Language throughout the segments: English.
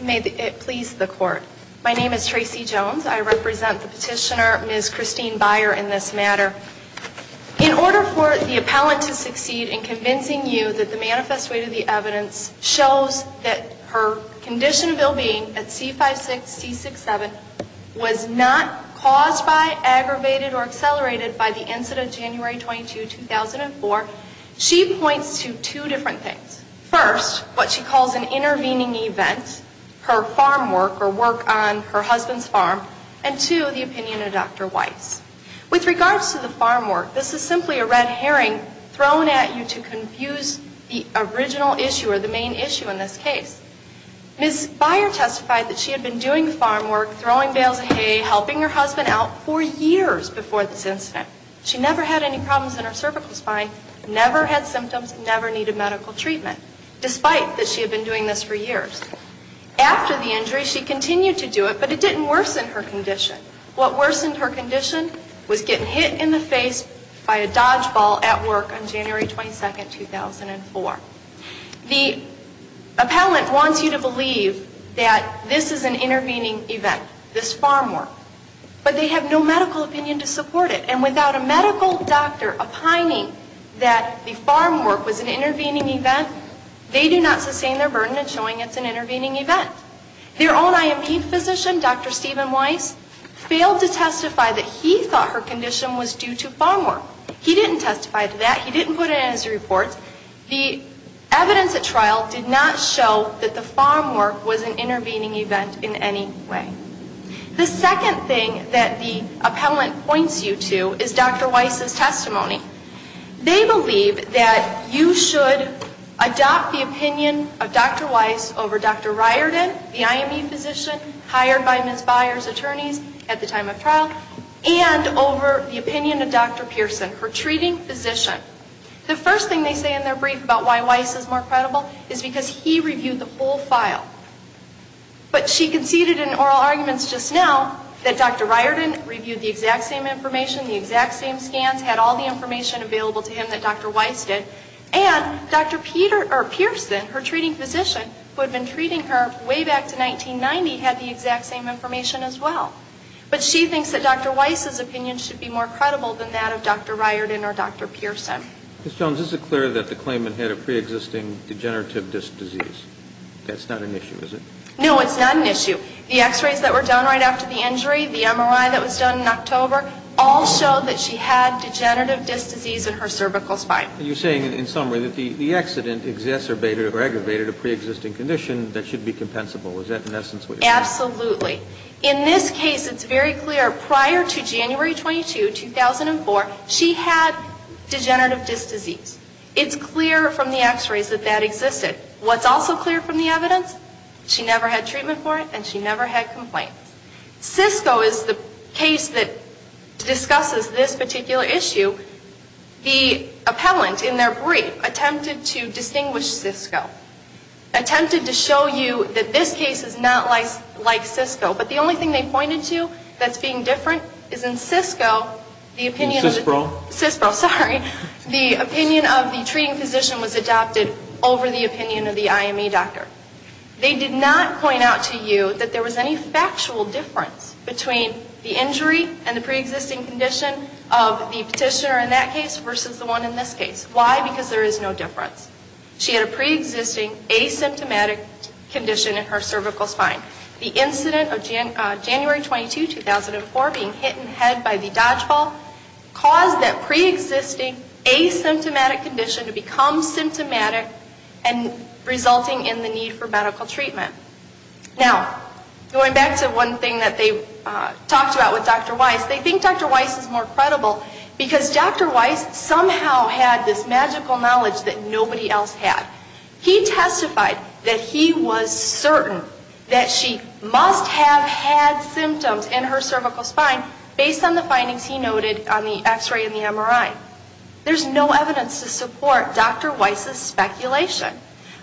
May it please the Court. My name is Tracy Jones. I represent the petitioner Ms. Christine Beyer in this matter. In order for the appellant to succeed in convincing you that the manifest weight of the evidence shows that her condition of ill-being at C-56, C-67 was not caused by, aggravated, or accelerated by the incident of January 22, 2004, she points to two different things. First, what she calls an intervening event, her farm work or work on her husband's farm, and two, the opinion of Dr. Weiss. With regards to the farm work, this is simply a red herring thrown at you to confuse the original issue or the main issue in this case. Ms. Beyer testified that she had been doing farm work, throwing bales of hay, helping her husband out for years before this incident. She never had any problems in her cervical spine, never had symptoms, never needed medical treatment, despite that she had been doing this for years. After the injury, she continued to do it, but it didn't worsen her condition. What worsened her condition was getting hit in the face by a dodgeball at work on January 22, 2004. The appellant wants you to believe that this is an intervening event, this farm work, but they have no medical opinion to support it. And without a medical doctor opining that the farm work was an intervening event, they do not sustain their burden in showing it's an intervening event. Their own I.M.P. physician, Dr. Steven Weiss, failed to testify that he thought her condition was due to farm work. He didn't testify to that. He didn't put it in his report. The evidence at trial did not show that the farm work was an intervening event in any way. The second thing that the appellant points you to is Dr. Weiss' testimony. They believe that you should adopt the opinion of Dr. Weiss over Dr. Riordan, the I.M.P. physician, hired by Ms. Byer's attorneys at the time of trial, and over the opinion of Dr. Pearson, her treating physician. The first thing they say in their brief about why Weiss is more credible is he reviewed the whole file. But she conceded in oral arguments just now that Dr. Riordan reviewed the exact same information, the exact same scans, had all the information available to him that Dr. Weiss did, and Dr. Pearson, her treating physician, who had been treating her way back to 1990, had the exact same information as well. But she thinks that Dr. Weiss' opinion should be more credible than that of Dr. Riordan or Dr. Pearson. Ms. Jones, is it clear that the claimant had a pre-existing degenerative disc disease? That's not an issue, is it? No, it's not an issue. The x-rays that were done right after the injury, the MRI that was done in October, all showed that she had degenerative disc disease in her cervical spine. And you're saying, in summary, that the accident exacerbated or aggravated a pre-existing condition that should be compensable. Is that, in essence, what you're saying? Absolutely. In this case, it's very clear, prior to January 22, 2004, she had degenerative disc disease. It's clear from the x-rays that that existed. What's also clear from the evidence? She never had treatment for it, and she never had complaints. Cisco is the case that discusses this particular issue. The appellant, in their brief, attempted to distinguish Cisco. Attempted to show you that this case is not like Cisco. But the only thing they pointed to that's being different is in Cisco, the opinion of the treating physician was adopted over the opinion of the IME doctor. They did not point out to you that there was any factual difference between the injury and the pre-existing condition of the petitioner in that case versus the one in this case. Why? Because there is no difference. She had a pre-existing asymptomatic condition in her cervical spine. The incident of January 22, 2004, being hit in the head by the dodgeball, caused that pre-existing asymptomatic condition to become symptomatic and resulting in the need for medical treatment. Now, going back to one thing that they talked about with Dr. Weiss, they think Dr. Weiss is more credible because Dr. Weiss somehow had this magical knowledge that nobody else had. He testified that he was certain that she must have had symptoms in her cervical spine based on the findings he noted on the X-ray and the MRI. There's no evidence to support Dr. Weiss's speculation.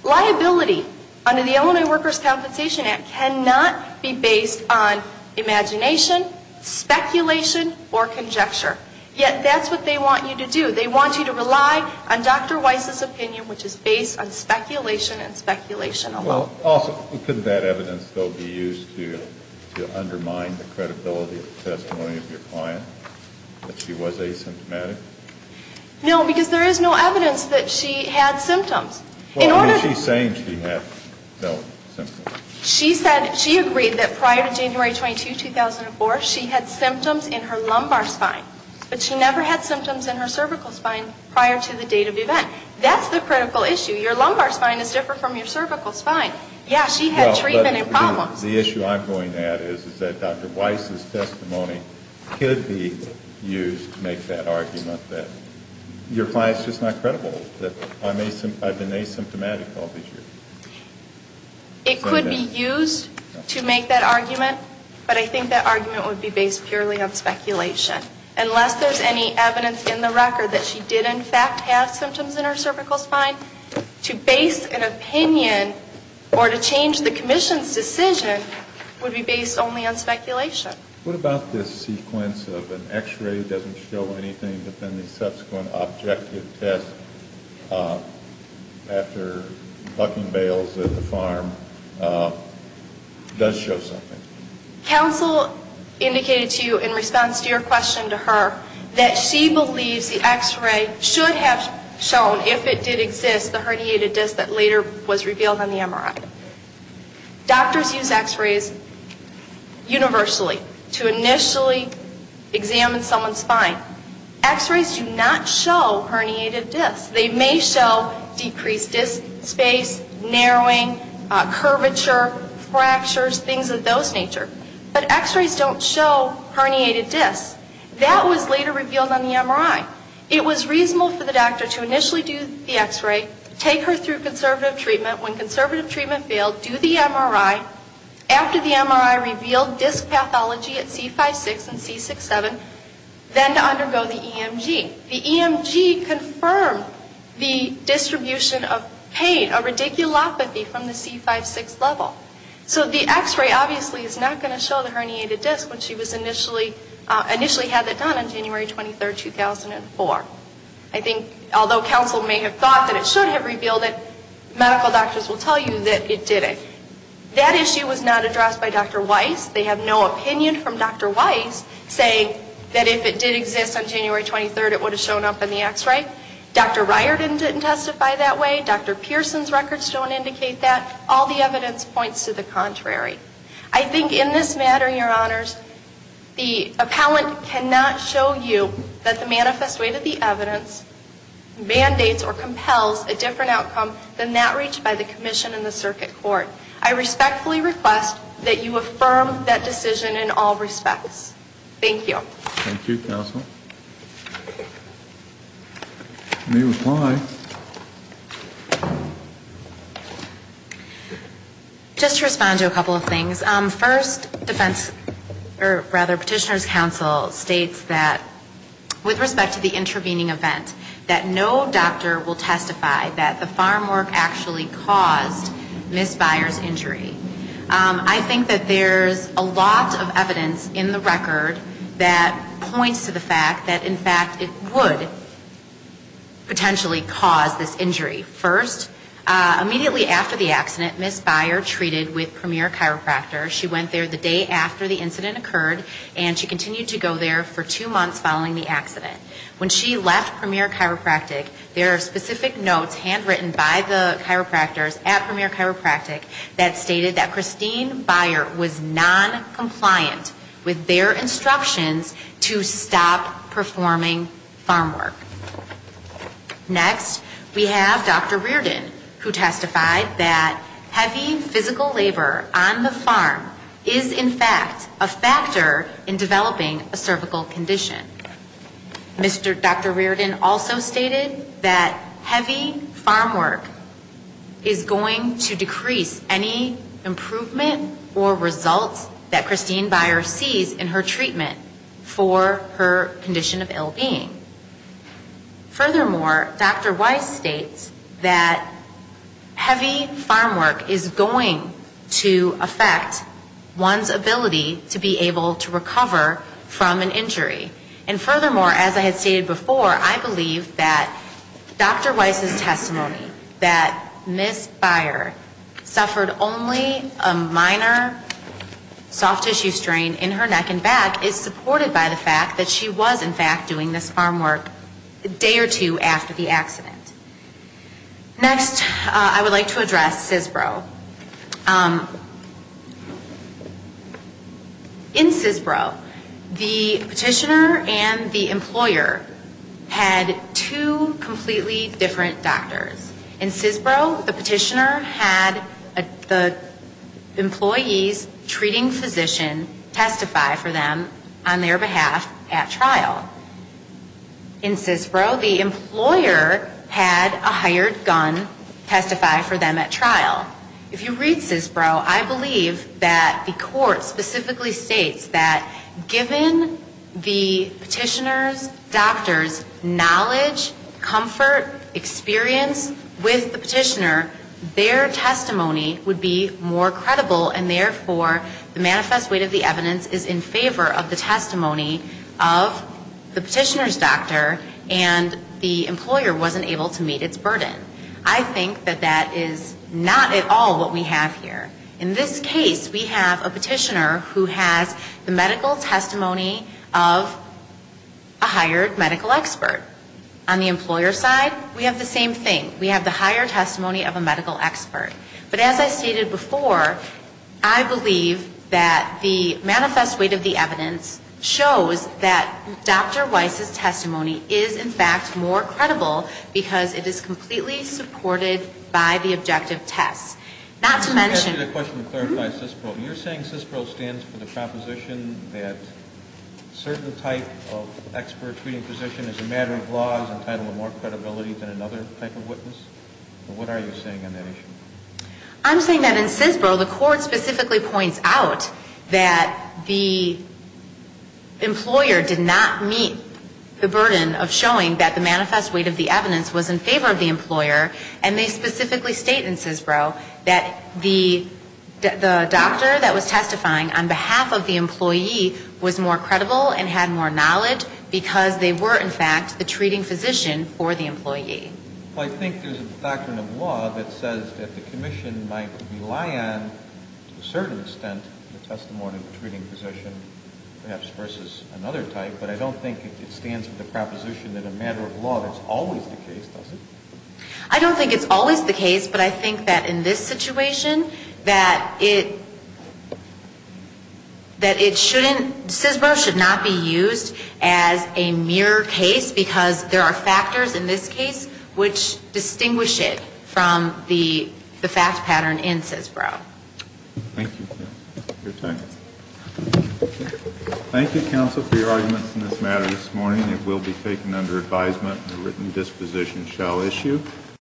Liability under the Illinois Workers' Compensation Act cannot be based on imagination, speculation, or conjecture. Yet, that's what they want you to do. They want you to rely on Dr. Weiss's opinion, which is based on speculation and speculation alone. Well, also, couldn't that evidence, though, be used to undermine the credibility of the testimony of your client, that she was asymptomatic? No, because there is no evidence that she had symptoms. Well, I mean, she's saying she had no symptoms. She said, she agreed that prior to January 22, 2004, she had symptoms in her lumbar spine, but she never had symptoms in her cervical spine prior to the date of event. That's the critical issue. Your lumbar spine is different from your cervical spine. Yeah, she had treatment and problems. The issue I'm going at is that Dr. Weiss's testimony could be used to make that argument that your client's just not credible, that I've been asymptomatic all these years. It could be used to make that argument, but I think that argument would be based purely on speculation. Unless there's any evidence in the record that she did, in fact, have symptoms in her cervical spine, to base an opinion or to change the Commission's decision would be based only on speculation. What about this sequence of an x-ray that doesn't show anything, but then the subsequent objective test after bucking bales at the farm does show something? Counsel indicated to you in response to your question to her that she believes the x-ray should have shown, if it did exist, the herniated disc that later was revealed on the MRI. Doctors use x-rays universally to initially examine someone's spine. X-rays do not show herniated discs. They may show decreased disc space, narrowing, curvature, fractures, things of those nature, but x-rays don't show herniated discs. That was later revealed on the MRI. It was reasonable for the doctor to initially do the x-ray, take her through conservative treatment field, do the MRI, after the MRI revealed disc pathology at C5-6 and C6-7, then to undergo the EMG. The EMG confirmed the distribution of pain, a radiculopathy from the C5-6 level. So the x-ray obviously is not going to show the herniated disc when she was initially, initially had it done on January 23, 2004. I think, although counsel may have thought that it should have revealed it, medical doctors will tell you that it didn't. That issue was not addressed by Dr. Weiss. They have no opinion from Dr. Weiss saying that if it did exist on January 23, it would have shown up in the x-ray. Dr. Riordan didn't testify that way. Dr. Pearson's records don't indicate that. All the evidence points to the contrary. I think in this matter, Your Honors, the appellant cannot show you that the manifest weight of the evidence mandates or compels a different outcome than that reached by the commission and the circuit court. I respectfully request that you affirm that decision in all respects. Thank you. Thank you, counsel. You may reply. Just to respond to a couple of things. First, defense, or rather, Petitioner's counsel states that, with respect to the intervening event, that no doctor will testify that the farmwork actually caused Ms. Byer's injury. I think that there's a lot of evidence in the record that points to the fact that, in fact, it would potentially cause this injury. First, immediately after the accident, Ms. Byer treated with Premier Chiropractor. She went there the day after the incident occurred, and she continued to go there for two months following the accident. When she left Premier Chiropractic, there are specific notes handwritten by the chiropractors at Premier Chiropractic that stated that Christine Byer was noncompliant with their instructions to stop performing farmwork. Next, we have Dr. Riordan, who testified that heavy physical labor on the farm is not a condition of ill-being. It is, in fact, a factor in developing a cervical condition. Mr. Dr. Riordan also stated that heavy farmwork is going to decrease any improvement or results that Christine Byer sees in her treatment for her condition of ill-being. Furthermore, Dr. Weiss states that heavy farmwork is going to affect one's ability to perform farmwork, one's ability to be able to recover from an injury. And furthermore, as I had stated before, I believe that Dr. Weiss's testimony that Ms. Byer suffered only a minor soft tissue strain in her neck and back is supported by the fact that she was, in fact, doing this farmwork a day or two after the accident. Next, I would like to address CISPRO. In CISPRO, the petitioner and the employer had two completely different doctors. In CISPRO, the petitioner had the employee's treating physician testify for them on their behalf at trial. In CISPRO, the employer had a hired gun testify for them at trial. If you read CISPRO, I believe that the court specifically states that given the petitioner's doctor's knowledge, comfort, experience with the petitioner, their testimony would be more credible and, therefore, the manifest weight of the evidence is in favor of the testimony of the petitioner's doctor and the employer wasn't able to meet its burden. I think that that is not at all what we have here. In this case, we have a petitioner who has the medical testimony of a hired medical expert. On the employer's side, we have the higher testimony of a medical expert. But as I stated before, I believe that the manifest weight of the evidence shows that Dr. Weiss's testimony is, in fact, more credible because it is completely supported by the objective test. Not to mention the question of clarifying CISPRO. You're saying CISPRO stands for the proposition that certain type of expert treating this position as a matter of law is entitled to more credibility than another type of witness? What are you saying on that issue? I'm saying that in CISPRO, the court specifically points out that the employer did not meet the burden of showing that the manifest weight of the evidence was in favor of the employer and they specifically state in CISPRO that the doctor that was testifying on behalf of the employee was more credible and had more knowledge because they were, in fact, the treating physician for the employee. Well, I think there's a doctrine of law that says that the commission might rely on, to a certain extent, the testimony of the treating physician perhaps versus another type, but I don't think it stands for the proposition that a matter of law that's always the case, does it? I don't think it's always the case, but I think that in this situation, that it, that it shouldn't, CISPRO should not be used as a mirror case because there are factors in this case which distinguish it from the fact pattern in CISPRO. Thank you. Your time. Thank you, counsel, for your arguments in this matter this morning. It will be taken under advisement and a written disposition shall issue.